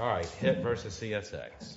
Alright, Hitt v. CSX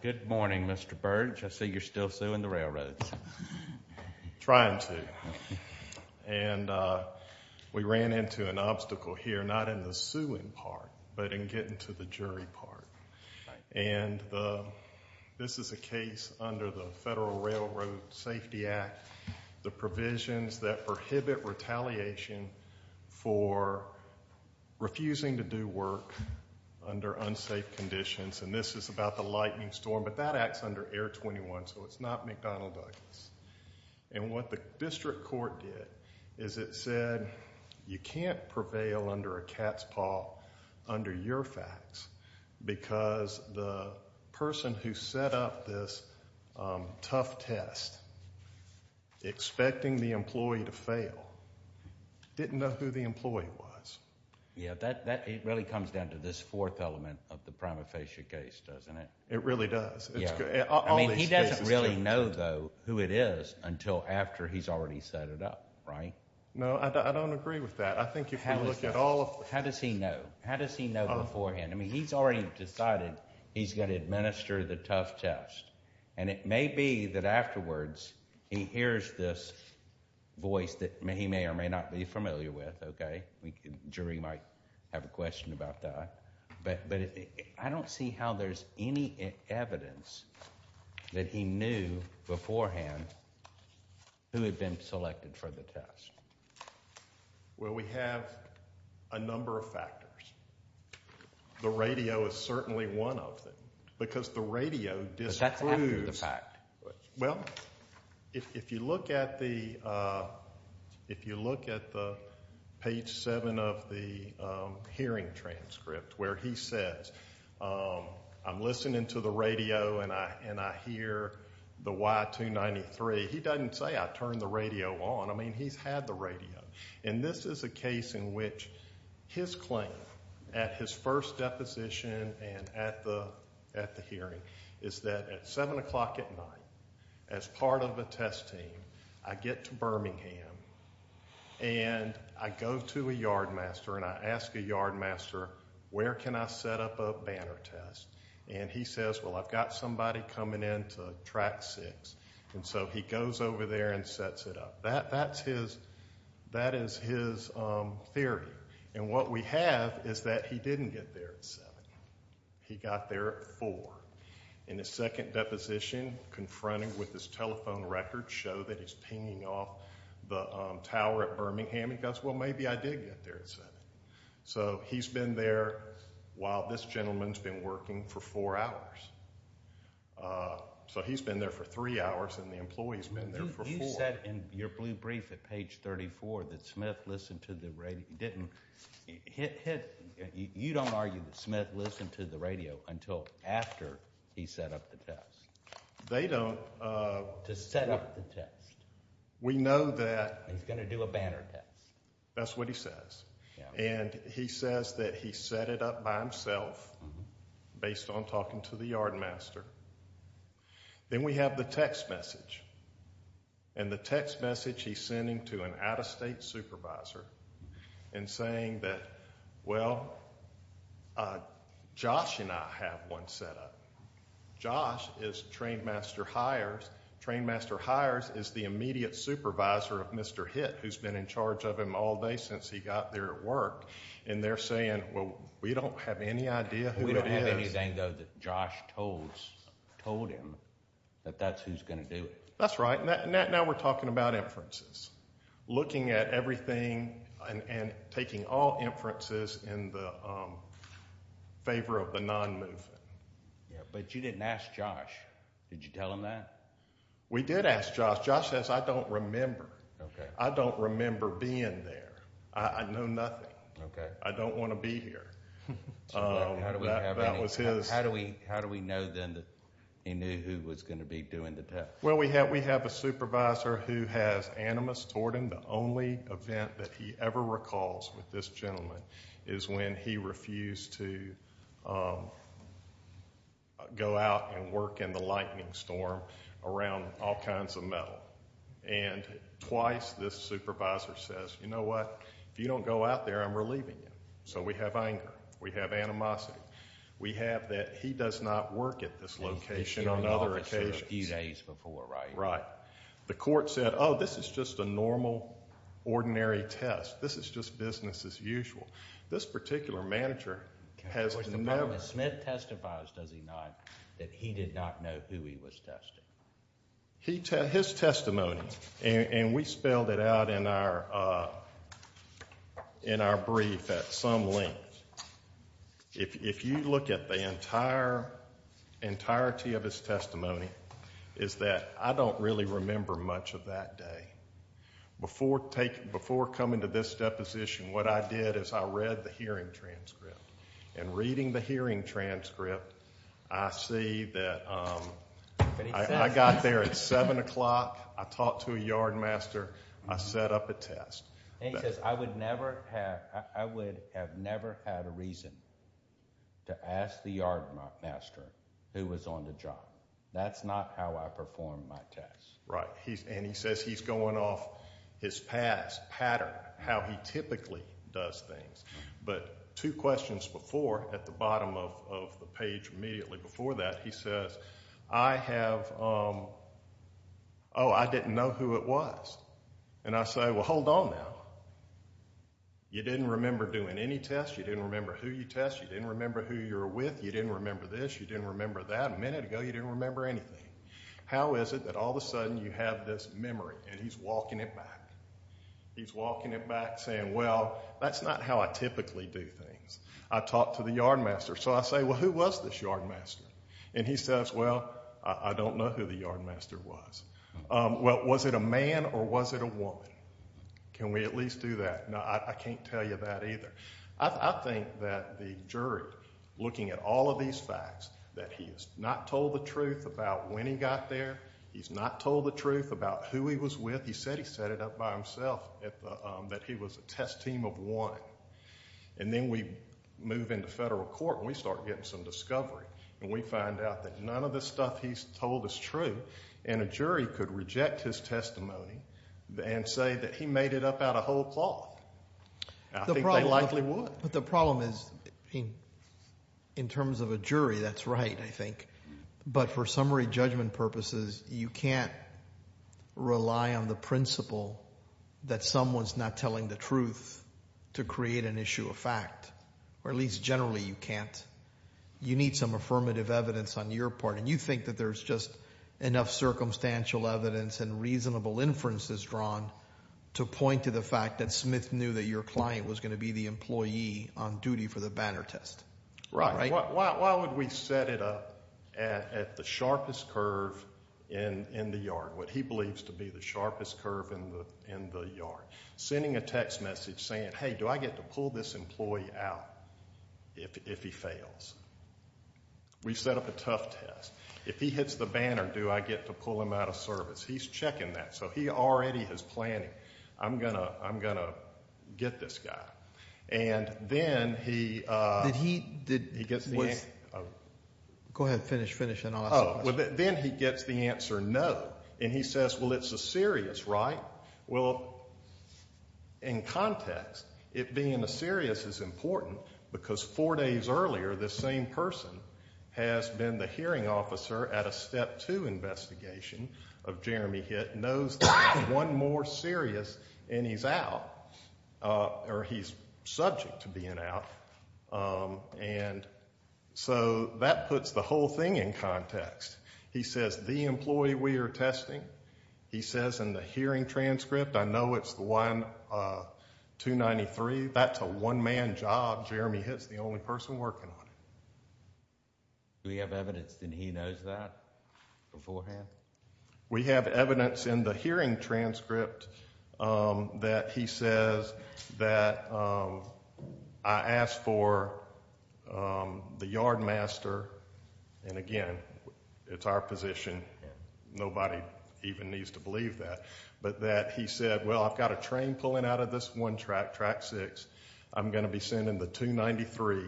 Good morning, Mr. Burge. I see you're still suing the railroads. Trying to. And we ran into an obstacle here, not in the suing part, but in getting to the jury part. And this is a case under the Federal Railroad Safety Act. The provisions that prohibit retaliation for refusing to do work under unsafe conditions. And this is about the lightning storm, but that acts under Air 21, so it's not McDonald Douglas. And what the district court did is it said you can't prevail under a cat's paw under your facts because the person who set up this tough test, expecting the employee to fail, didn't know who the employee was. Yeah, that really comes down to this fourth element of the prima facie case, doesn't it? It really does. I mean, he doesn't really know, though, who it is until after he's already set it up, right? No, I don't agree with that. How does he know? How does he know beforehand? I mean, he's already decided he's going to administer the tough test. And it may be that afterwards he hears this voice that he may or may not be familiar with, okay? The jury might have a question about that. But I don't see how there's any evidence that he knew beforehand who had been selected for the test. Well, we have a number of factors. The radio is certainly one of them because the radio disproves. But that's after the fact. Well, if you look at the page 7 of the hearing transcript where he says, I'm listening to the radio and I hear the Y293, he doesn't say I turned the radio on. I mean, he's had the radio. And this is a case in which his claim at his first deposition and at the hearing is that at 7 o'clock at night, as part of a test team, I get to Birmingham and I go to a yardmaster and I ask a yardmaster, where can I set up a banner test? And he says, well, I've got somebody coming in to track six. And so he goes over there and sets it up. That is his theory. And what we have is that he didn't get there at 7. He got there at 4. In his second deposition, confronted with his telephone record, show that he's pinging off the tower at Birmingham. He goes, well, maybe I did get there at 7. So he's been there while this gentleman's been working for four hours. So he's been there for three hours and the employee's been there for four. You said in your blue brief at page 34 that Smith listened to the radio. You don't argue that Smith listened to the radio until after he set up the test. They don't. To set up the test. We know that. He's going to do a banner test. That's what he says. And he says that he set it up by himself based on talking to the yardmaster. Then we have the text message. And the text message he's sending to an out-of-state supervisor and saying that, well, Josh and I have one set up. Josh is the train master hires. Train master hires is the immediate supervisor of Mr. Hitt, who's been in charge of him all day since he got there at work. And they're saying, well, we don't have any idea who it is. We don't have anything, though, that Josh told him that that's who's going to do it. That's right. Now we're talking about inferences, looking at everything and taking all inferences in the favor of the non-movement. But you didn't ask Josh. Did you tell him that? We did ask Josh. Josh says, I don't remember. Okay. I don't remember being there. I know nothing. Okay. I don't want to be here. That was his. How do we know, then, that he knew who was going to be doing the test? Well, we have a supervisor who has animus toward him. The only event that he ever recalls with this gentleman is when he refused to go out and work in the lightning storm around all kinds of metal. And twice, this supervisor says, you know what? If you don't go out there, I'm relieving you. So we have anger. We have animosity. We have that he does not work at this location on other occasions. He was here in the office a few days before, right? Right. The court said, oh, this is just a normal, ordinary test. This is just business as usual. This particular manager has never – The Department of Smith testifies, does he not, that he did not know who he was testing? His testimony, and we spelled it out in our brief at some length, if you look at the entirety of his testimony, is that I don't really remember much of that day. Before coming to this deposition, what I did is I read the hearing transcript. And reading the hearing transcript, I see that I got there at 7 o'clock, I talked to a yardmaster, I set up a test. And he says, I would have never had a reason to ask the yardmaster who was on the job. That's not how I performed my test. Right. And he says he's going off his past pattern, how he typically does things. But two questions before, at the bottom of the page immediately before that, he says, I have – oh, I didn't know who it was. And I say, well, hold on now. You didn't remember doing any tests. You didn't remember who you tested. You didn't remember who you were with. You didn't remember this. You didn't remember that. A minute ago, you didn't remember anything. How is it that all of a sudden you have this memory? And he's walking it back. He's walking it back saying, well, that's not how I typically do things. I talked to the yardmaster. So I say, well, who was this yardmaster? And he says, well, I don't know who the yardmaster was. Well, was it a man or was it a woman? Can we at least do that? No, I can't tell you that either. I think that the jury, looking at all of these facts, that he has not told the truth about when he got there. He's not told the truth about who he was with. He said he set it up by himself, that he was a test team of one. And then we move into federal court and we start getting some discovery. And we find out that none of the stuff he's told is true. And a jury could reject his testimony and say that he made it up out of whole cloth. I think they likely would. But the problem is, in terms of a jury, that's right, I think. But for summary judgment purposes, you can't rely on the principle that someone's not telling the truth to create an issue of fact. Or at least generally you can't. You need some affirmative evidence on your part. And you think that there's just enough circumstantial evidence and reasonable inferences drawn to point to the fact that Smith knew that your client was going to be the employee on duty for the banner test. Right. Why would we set it up at the sharpest curve in the yard, what he believes to be the sharpest curve in the yard? Sending a text message saying, hey, do I get to pull this employee out if he fails? We set up a tough test. If he hits the banner, do I get to pull him out of service? He's checking that. So he already is planning, I'm going to get this guy. And then he gets the answer. Go ahead, finish, finish, and I'll ask the question. Then he gets the answer no. And he says, well, it's a serious, right? Well, in context, it being a serious is important because four days earlier this same person has been the hearing officer at a Step 2 investigation of Jeremy Hitt, knows that one more serious and he's out. Or he's subject to being out. And so that puts the whole thing in context. He says, the employee we are testing, he says in the hearing transcript, I know it's the one 293, that's a one-man job. Jeremy Hitt's the only person working on it. Do we have evidence that he knows that beforehand? We have evidence in the hearing transcript that he says that I asked for the yardmaster. And, again, it's our position. Nobody even needs to believe that. But that he said, well, I've got a train pulling out of this one track, track six. I'm going to be sending the 293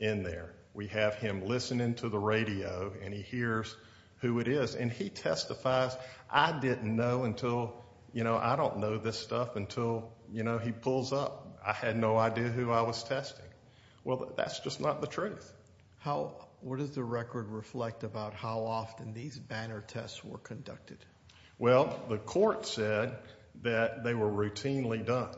in there. We have him listening to the radio, and he hears who it is. And he testifies, I didn't know until, you know, I don't know this stuff until, you know, he pulls up. I had no idea who I was testing. Well, that's just not the truth. What does the record reflect about how often these banner tests were conducted? Well, the court said that they were routinely done.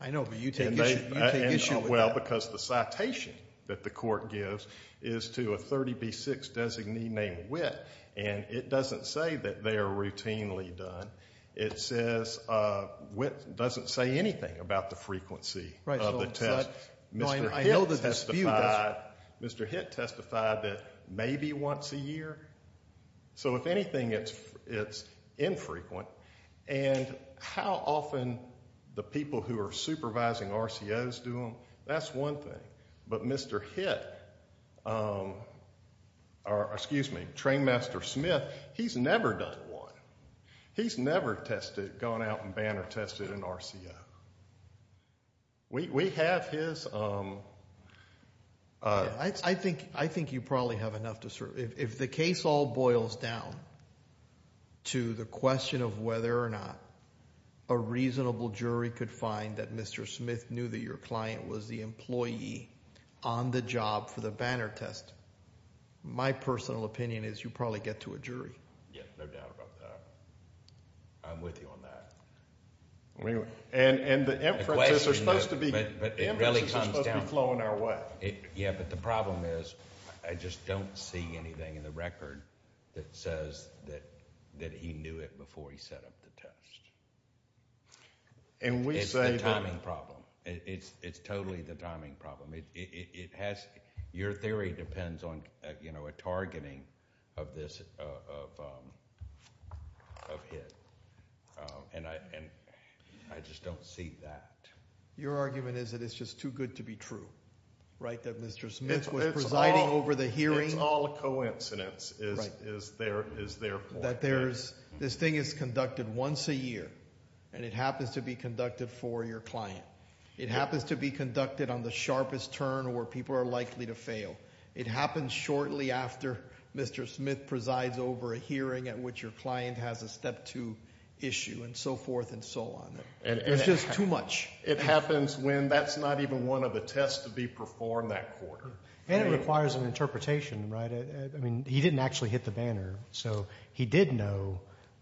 I know, but you take issue with that. Well, because the citation that the court gives is to a 30B6 designee named Witt, and it doesn't say that they are routinely done. It says Witt doesn't say anything about the frequency of the test. Mr. Hitt testified that maybe once a year. So, if anything, it's infrequent. And how often the people who are supervising RCOs do them, that's one thing. But Mr. Hitt, or excuse me, Trainmaster Smith, he's never done one. He's never tested, gone out and banner tested an RCO. We have his. I think you probably have enough to serve. If the case all boils down to the question of whether or not a reasonable jury could find that Mr. Smith knew that your client was the employee on the job for the banner test, my personal opinion is you probably get to a jury. Yeah, no doubt about that. I'm with you on that. And the inferences are supposed to be flowing our way. Yeah, but the problem is I just don't see anything in the record that says that he knew it before he set up the test. It's the timing problem. It's totally the timing problem. Your theory depends on a targeting of Hitt. And I just don't see that. Your argument is that it's just too good to be true, right? That Mr. Smith was presiding over the hearing. It's all a coincidence is their point. That this thing is conducted once a year, and it happens to be conducted for your client. It happens to be conducted on the sharpest turn where people are likely to fail. It happens shortly after Mr. Smith presides over a hearing at which your client has a Step 2 issue and so forth and so on. It's just too much. It happens when that's not even one of the tests to be performed that quarter. And it requires an interpretation, right? I mean, he didn't actually hit the banner. So he did know,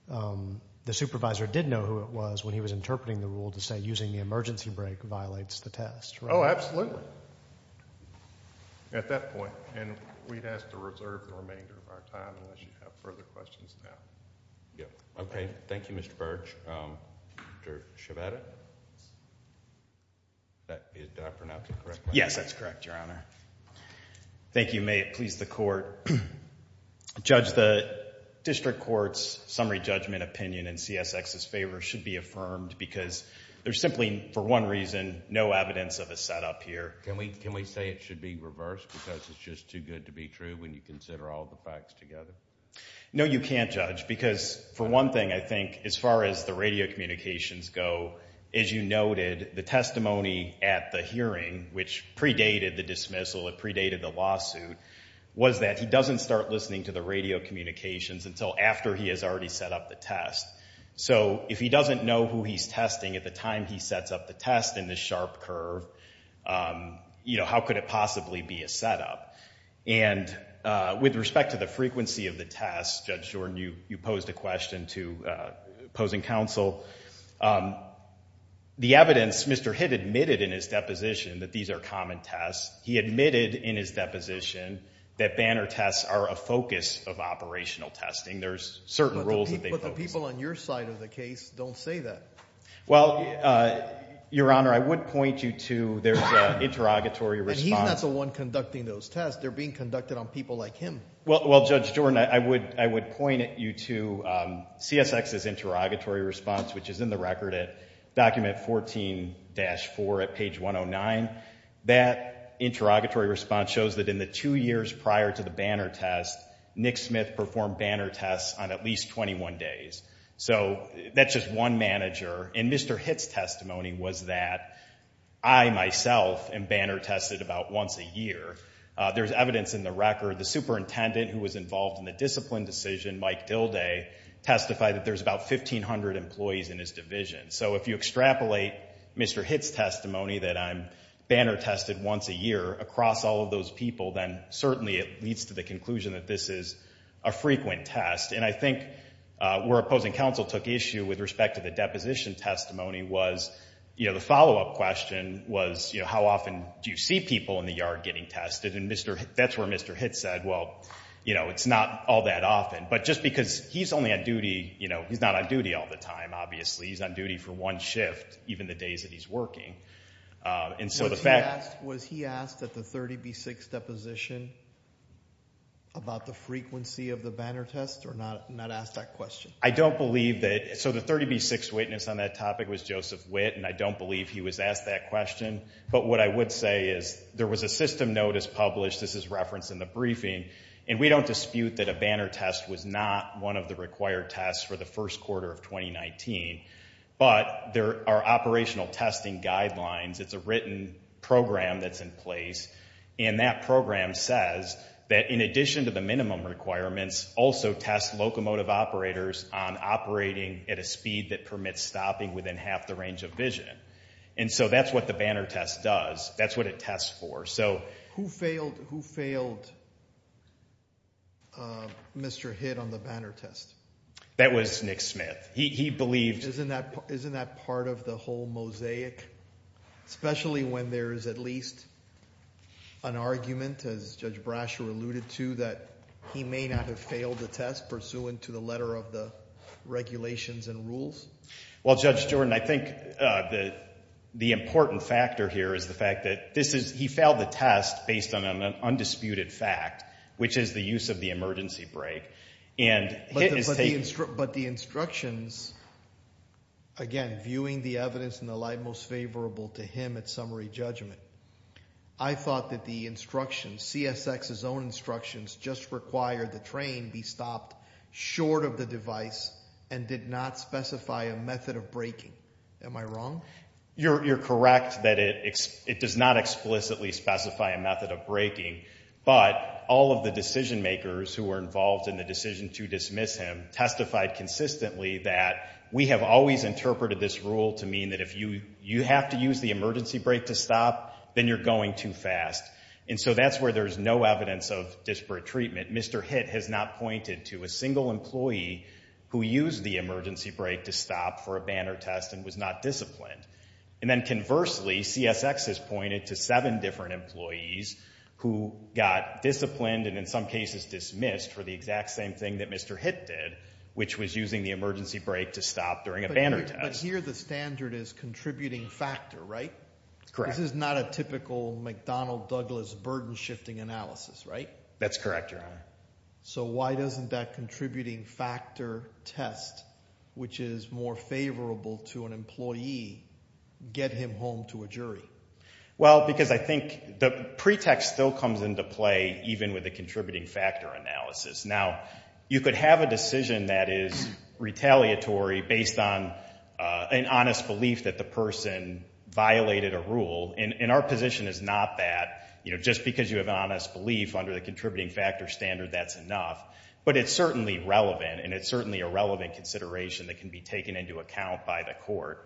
the supervisor did know who it was when he was interpreting the rule to say using the emergency brake violates the test, right? Oh, absolutely. At that point. And we'd have to reserve the remainder of our time unless you have further questions now. Okay. Thank you, Mr. Burge. Dr. Sciabatta? Did I pronounce it correctly? Yes, that's correct, Your Honor. Thank you. And may it please the Court, Judge, the district court's summary judgment opinion in CSX's favor should be affirmed because there's simply, for one reason, no evidence of a setup here. Can we say it should be reversed because it's just too good to be true when you consider all the facts together? No, you can't, Judge, because, for one thing, I think as far as the radio communications go, as you noted, the testimony at the hearing, which predated the dismissal, it predated the lawsuit, was that he doesn't start listening to the radio communications until after he has already set up the test. So if he doesn't know who he's testing at the time he sets up the test in this sharp curve, you know, how could it possibly be a setup? And with respect to the frequency of the test, Judge Jordan, you posed a question to opposing counsel. The evidence, Mr. Hitt admitted in his deposition that these are common tests. He admitted in his deposition that Banner tests are a focus of operational testing. There's certain rules that they focus on. But the people on your side of the case don't say that. Well, Your Honor, I would point you to the interrogatory response. He's not the one conducting those tests. They're being conducted on people like him. Well, Judge Jordan, I would point you to CSX's interrogatory response, which is in the record at document 14-4 at page 109. That interrogatory response shows that in the two years prior to the Banner test, Nick Smith performed Banner tests on at least 21 days. So that's just one manager. And Mr. Hitt's testimony was that I myself am Banner tested about once a year. There's evidence in the record, the superintendent who was involved in the discipline decision, Mike Dilday, testified that there's about 1,500 employees in his division. So if you extrapolate Mr. Hitt's testimony that I'm Banner tested once a year across all of those people, then certainly it leads to the conclusion that this is a frequent test. And I think where opposing counsel took issue with respect to the deposition testimony was the follow-up question was, how often do you see people in the yard getting tested? And that's where Mr. Hitt said, well, it's not all that often. But just because he's only on duty, he's not on duty all the time, obviously. He's on duty for one shift, even the days that he's working. Was he asked at the 30B6 deposition about the frequency of the Banner test or not asked that question? I don't believe that. So the 30B6 witness on that topic was Joseph Witt, and I don't believe he was asked that question. But what I would say is there was a system notice published. This is referenced in the briefing. And we don't dispute that a Banner test was not one of the required tests for the first quarter of 2019. But there are operational testing guidelines. It's a written program that's in place. And that program says that in addition to the minimum requirements, also test locomotive operators on operating at a speed that permits stopping within half the range of vision. And so that's what the Banner test does. That's what it tests for. So who failed Mr. Hitt on the Banner test? That was Nick Smith. Isn't that part of the whole mosaic, especially when there is at least an argument, as Judge Brasher alluded to, that he may not have failed the test pursuant to the letter of the regulations and rules? Well, Judge Jordan, I think the important factor here is the fact that he failed the test based on an undisputed fact, which is the use of the emergency brake. But the instructions, again, viewing the evidence in the light most favorable to him at summary judgment, I thought that the instructions, CSX's own instructions, just required the train be stopped short of the device and did not specify a method of braking. Am I wrong? You're correct that it does not explicitly specify a method of braking. But all of the decision makers who were involved in the decision to dismiss him testified consistently that we have always interpreted this rule to mean that if you have to use the emergency brake to stop, then you're going too fast. And so that's where there's no evidence of disparate treatment. Mr. Hitt has not pointed to a single employee who used the emergency brake to stop for a Banner test and was not disciplined. And then conversely, CSX has pointed to seven different employees who got disciplined and in some cases dismissed for the exact same thing that Mr. Hitt did, which was using the emergency brake to stop during a Banner test. But here the standard is contributing factor, right? Correct. This is not a typical McDonnell-Douglas burden-shifting analysis, right? That's correct, Your Honor. So why doesn't that contributing factor test, which is more favorable to an employee, get him home to a jury? Well, because I think the pretext still comes into play even with the contributing factor analysis. Now, you could have a decision that is retaliatory based on an honest belief that the person violated a rule, and our position is not that. Just because you have an honest belief under the contributing factor standard, that's enough. But it's certainly relevant, and it's certainly a relevant consideration that can be taken into account by the court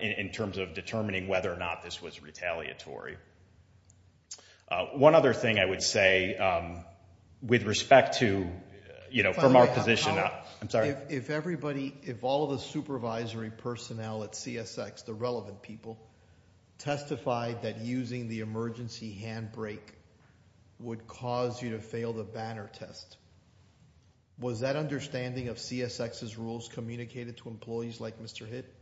in terms of determining whether or not this was retaliatory. One other thing I would say with respect to, you know, from our position. If everybody, if all of the supervisory personnel at CSX, the relevant people, testified that using the emergency handbrake would cause you to fail the Banner test, was that understanding of CSX's rules communicated to employees like Mr. Hitt?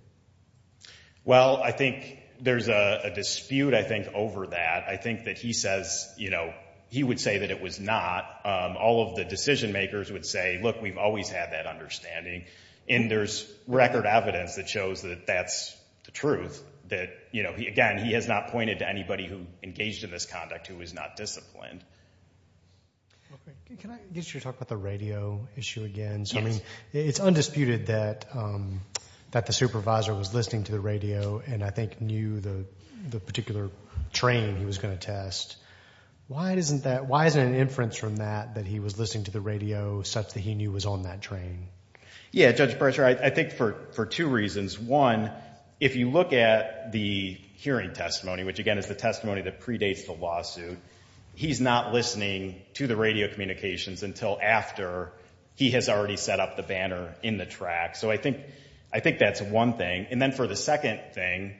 Well, I think there's a dispute, I think, over that. I think that he says, you know, he would say that it was not. All of the decision makers would say, look, we've always had that understanding, and there's record evidence that shows that that's the truth. That, you know, again, he has not pointed to anybody who engaged in this conduct who was not disciplined. Can I get you to talk about the radio issue again? Yes. It's undisputed that the supervisor was listening to the radio and I think knew the particular train he was going to test. Why isn't an inference from that that he was listening to the radio such that he knew was on that train? Yeah, Judge Berger, I think for two reasons. One, if you look at the hearing testimony, which again is the testimony that predates the lawsuit, he's not listening to the radio communications until after he has already set up the Banner in the track. So I think that's one thing. And then for the second thing,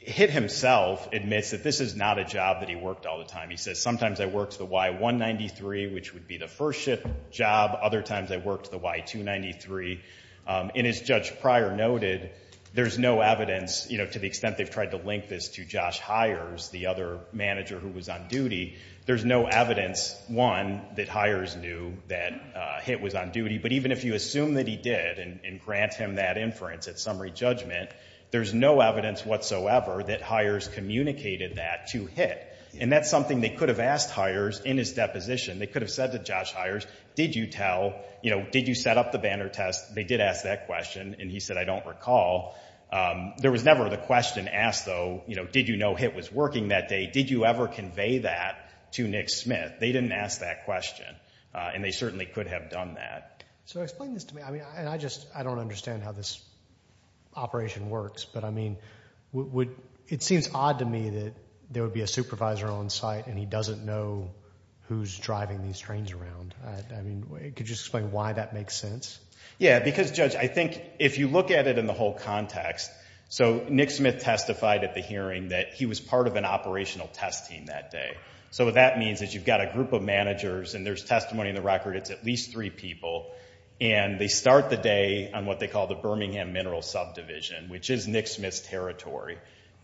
Hitt himself admits that this is not a job that he worked all the time. He says, sometimes I worked the Y193, which would be the first shift job. Other times I worked the Y293. And as Judge Pryor noted, there's no evidence, you know, to the extent they've tried to link this to Josh Hyers, the other manager who was on duty, there's no evidence, one, that Hyers knew that Hitt was on duty. But even if you assume that he did and grant him that inference at summary judgment, there's no evidence whatsoever that Hyers communicated that to Hitt. And that's something they could have asked Hyers in his deposition. They could have said to Josh Hyers, did you tell, you know, did you set up the Banner test? They did ask that question, and he said, I don't recall. There was never the question asked, though, you know, did you know Hitt was working that day? Did you ever convey that to Nick Smith? They didn't ask that question, and they certainly could have done that. So explain this to me. I mean, I just don't understand how this operation works. But, I mean, it seems odd to me that there would be a supervisor on site and he doesn't know who's driving these trains around. I mean, could you explain why that makes sense? Yeah, because, Judge, I think if you look at it in the whole context, so Nick Smith testified at the hearing that he was part of an operational test team that day. So what that means is you've got a group of managers, and there's testimony in the record it's at least three people, and they start the day on what they call the Birmingham Mineral Subdivision, which is Nick Smith's territory.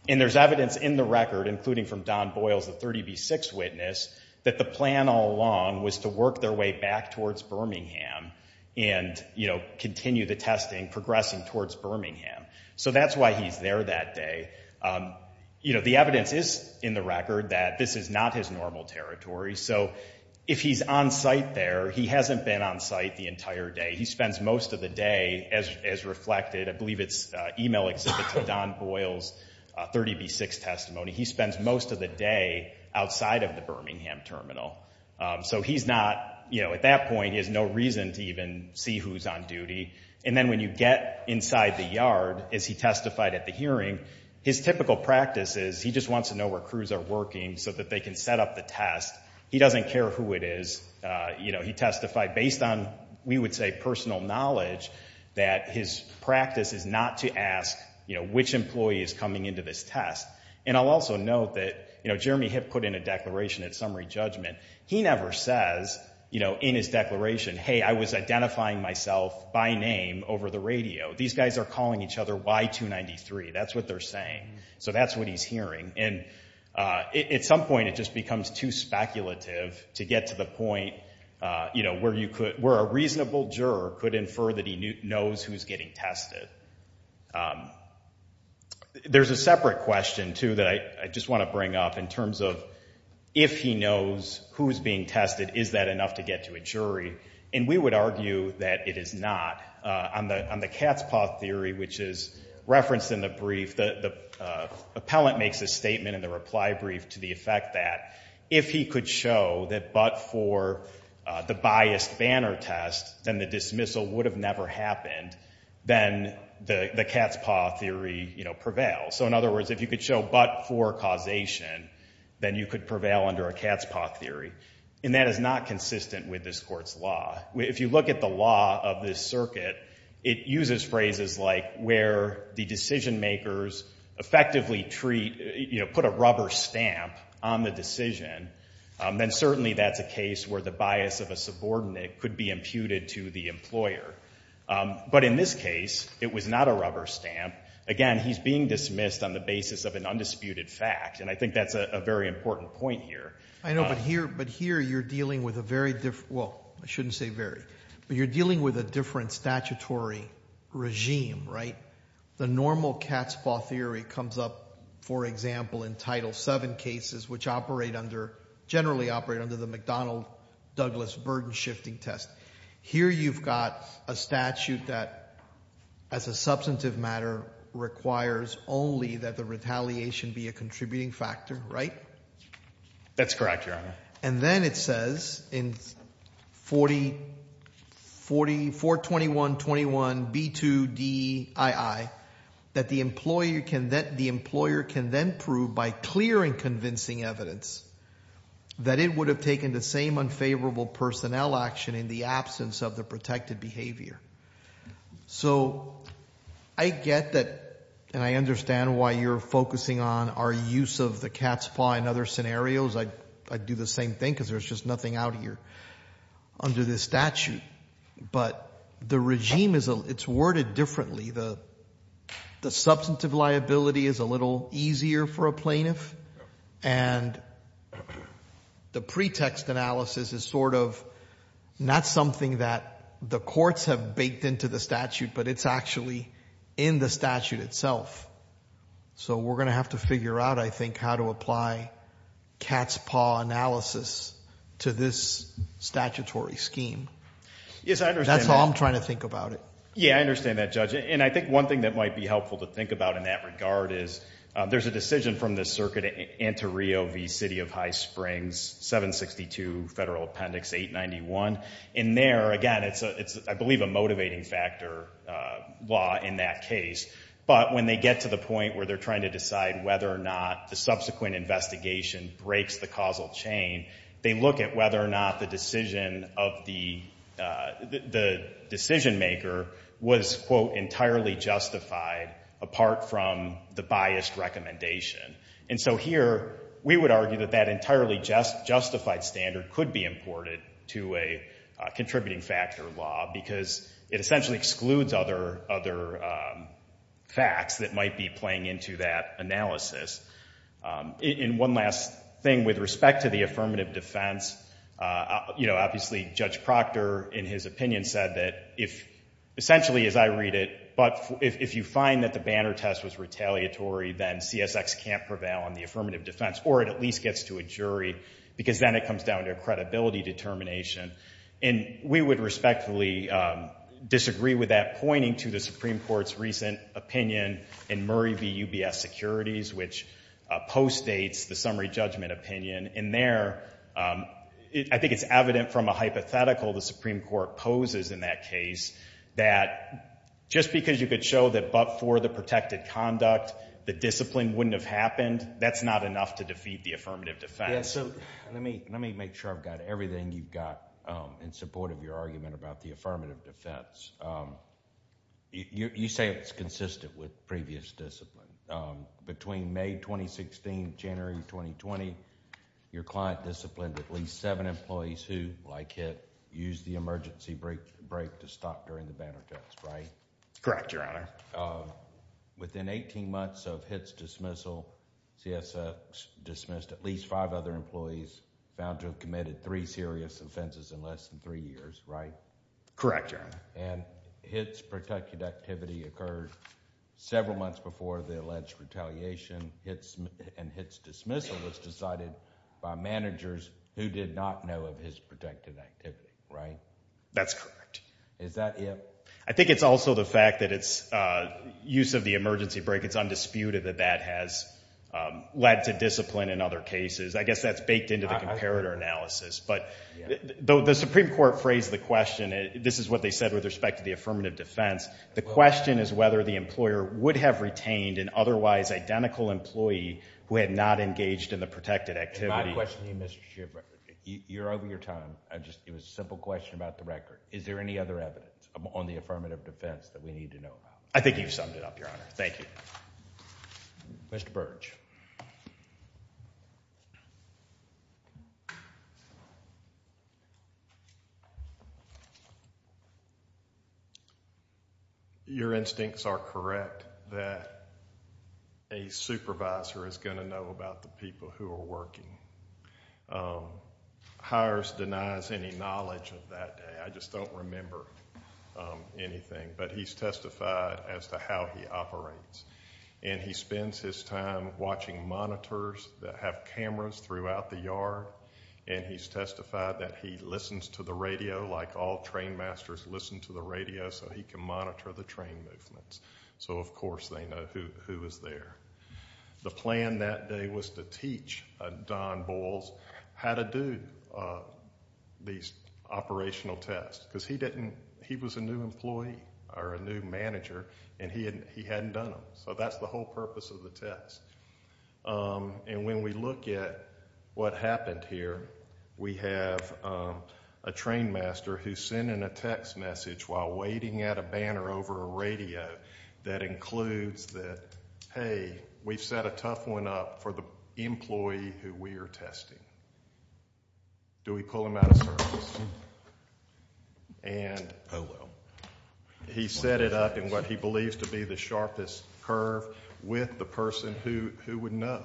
And there's evidence in the record, including from Don Boyles, the 30B6 witness, that the plan all along was to work their way back towards Birmingham and, you know, continue the testing, progressing towards Birmingham. So that's why he's there that day. You know, the evidence is in the record that this is not his normal territory. So if he's on site there, he hasn't been on site the entire day. He spends most of the day, as reflected, I believe it's email exhibit to Don Boyle's 30B6 testimony, he spends most of the day outside of the Birmingham terminal. So he's not, you know, at that point he has no reason to even see who's on duty. And then when you get inside the yard, as he testified at the hearing, his typical practice is he just wants to know where crews are working so that they can set up the test. He doesn't care who it is. You know, he testified based on, we would say, personal knowledge, that his practice is not to ask, you know, which employee is coming into this test. And I'll also note that, you know, Jeremy Hipp put in a declaration at summary judgment. He never says, you know, in his declaration, hey, I was identifying myself by name over the radio. These guys are calling each other Y293. That's what they're saying. So that's what he's hearing. And at some point it just becomes too speculative to get to the point, you know, where a reasonable juror could infer that he knows who's getting tested. There's a separate question, too, that I just want to bring up in terms of if he knows who's being tested, is that enough to get to a jury? And we would argue that it is not. On the cat's paw theory, which is referenced in the brief, the appellant makes a statement in the reply brief to the effect that if he could show that but for the biased banner test, then the dismissal would have never happened, then the cat's paw theory, you know, prevails. So, in other words, if you could show but for causation, then you could prevail under a cat's paw theory. And that is not consistent with this Court's law. If you look at the law of this circuit, it uses phrases like where the decision makers effectively treat, you know, put a rubber stamp on the decision, then certainly that's a case where the bias of a subordinate could be imputed to the employer. But in this case, it was not a rubber stamp. Again, he's being dismissed on the basis of an undisputed fact, and I think that's a very important point here. I know, but here you're dealing with a very different, well, I shouldn't say very, but you're dealing with a different statutory regime, right? The normal cat's paw theory comes up, for example, in Title VII cases, which operate under, generally operate under the McDonnell-Douglas burden-shifting test. Here you've got a statute that, as a substantive matter, requires only that the retaliation be a contributing factor, right? That's correct, Your Honor. And then it says in 42121B2DII that the employer can then prove by clearing convincing evidence that it would have taken the same unfavorable personnel action in the absence of the protected behavior. So I get that, and I understand why you're focusing on our use of the cat's paw in other scenarios. I'd do the same thing because there's just nothing out here under this statute. But the regime, it's worded differently. The substantive liability is a little easier for a plaintiff, and the pretext analysis is sort of not something that the courts have baked into the statute, but it's actually in the statute itself. So we're going to have to figure out, I think, how to apply cat's paw analysis to this statutory scheme. Yes, I understand that. That's how I'm trying to think about it. Yeah, I understand that, Judge. And I think one thing that might be helpful to think about in that regard is there's a decision from this circuit, Antirio v. City of High Springs, 762 Federal Appendix 891. And there, again, it's, I believe, a motivating factor law in that case. But when they get to the point where they're trying to decide whether or not the subsequent investigation breaks the causal chain, they look at whether or not the decision of the decision maker was, quote, entirely justified apart from the biased recommendation. And so here we would argue that that entirely justified standard could be imported to a contributing factor law because it essentially excludes other facts that might be playing into that analysis. And one last thing with respect to the affirmative defense, you know, obviously Judge Proctor, in his opinion, said that if essentially, as I read it, but if you find that the banner test was retaliatory, then CSX can't prevail on the affirmative defense or it at least gets to a jury because then it comes down to a credibility determination. And we would respectfully disagree with that, pointing to the Supreme Court's recent opinion in Murray v. UBS Securities, which postdates the summary judgment opinion. And there, I think it's evident from a hypothetical the Supreme Court poses in that case that just because you could show that but for the protected conduct, the discipline wouldn't have happened, that's not enough to defeat the affirmative defense. Let me make sure I've got everything you've got in support of your argument about the affirmative defense. You say it's consistent with previous discipline. Between May 2016, January 2020, your client disciplined at least seven employees who, like Hitt, used the emergency break to stop during the banner test, right? Correct, Your Honor. Within eighteen months of Hitt's dismissal, CSX dismissed at least five other employees found to have committed three serious offenses in less than three years, right? Correct, Your Honor. And Hitt's protected activity occurred several months before the alleged retaliation and Hitt's dismissal was decided by managers who did not know of his protected activity, right? That's correct. Is that it? I think it's also the fact that it's use of the emergency break, it's undisputed that that has led to discipline in other cases. I guess that's baked into the comparator analysis. But the Supreme Court phrased the question, this is what they said with respect to the affirmative defense, the question is whether the employer would have retained an otherwise identical employee who had not engaged in the protected activity. My question to you, Mr. Schiff, you're over your time. It was a simple question about the record. Is there any other evidence on the affirmative defense that we need to know about? I think you've summed it up, Your Honor. Thank you. Mr. Birch. Your instincts are correct that a supervisor is going to know about the people who are working. Hires denies any knowledge of that day. I just don't remember anything. But he's testified as to how he operates. And he spends his time watching monitors that have cameras throughout the yard. And he's testified that he listens to the radio like all train masters listen to the radio so he can monitor the train movements. So, of course, they know who is there. The plan that day was to teach Don Bowles how to do these operational tests. Because he was a new employee, or a new manager, and he hadn't done them. So that's the whole purpose of the test. And when we look at what happened here, we have a train master who's sending a text message while waiting at a banner over a radio that includes that, hey, we've set a tough one up for the employee who we are testing. Do we pull him out of service? And, oh, well. He set it up in what he believes to be the sharpest curve with the person who would know,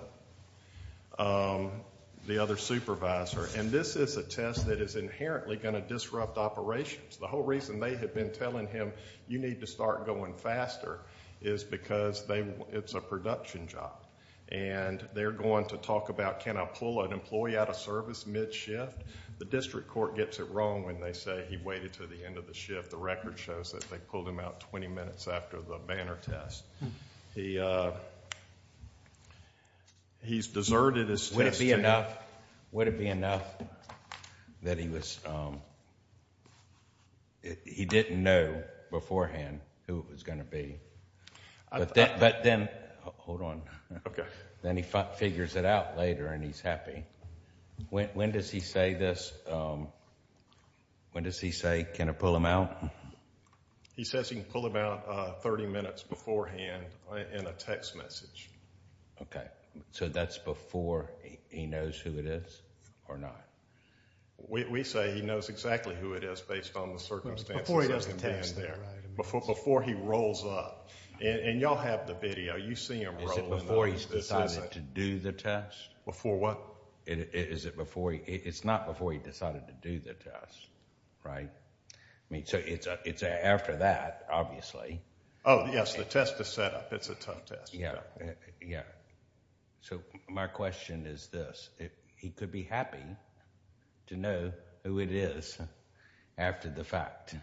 the other supervisor. And this is a test that is inherently going to disrupt operations. The whole reason they had been telling him you need to start going faster is because it's a production job. And they're going to talk about, can I pull an employee out of service mid-shift? The district court gets it wrong when they say he waited to the end of the shift. The record shows that they pulled him out 20 minutes after the banner test. He's deserted his testing. Would it be enough that he didn't know beforehand who it was going to be? Hold on. Okay. Then he figures it out later and he's happy. When does he say this? When does he say, can I pull him out? He says he can pull him out 30 minutes beforehand in a text message. Okay. So that's before he knows who it is or not? Before he does the test. And y'all have the video. You see him rolling. Is it before he's decided to do the test? Before what? It's not before he decided to do the test. Right? So it's after that, obviously. Oh, yes. The test is set up. It's a tough test. Yeah. Yeah. So my question is this. He could be happy to know who it is after the fact.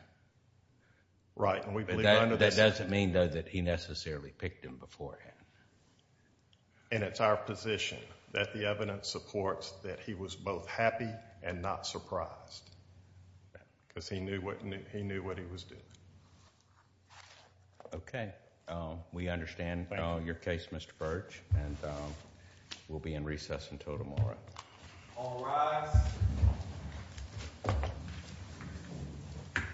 Right. That doesn't mean, though, that he necessarily picked him beforehand. And it's our position that the evidence supports that he was both happy and not surprised. Because he knew what he was doing. Okay. We understand your case, Mr. Birch. And we'll be in recess until tomorrow. All rise.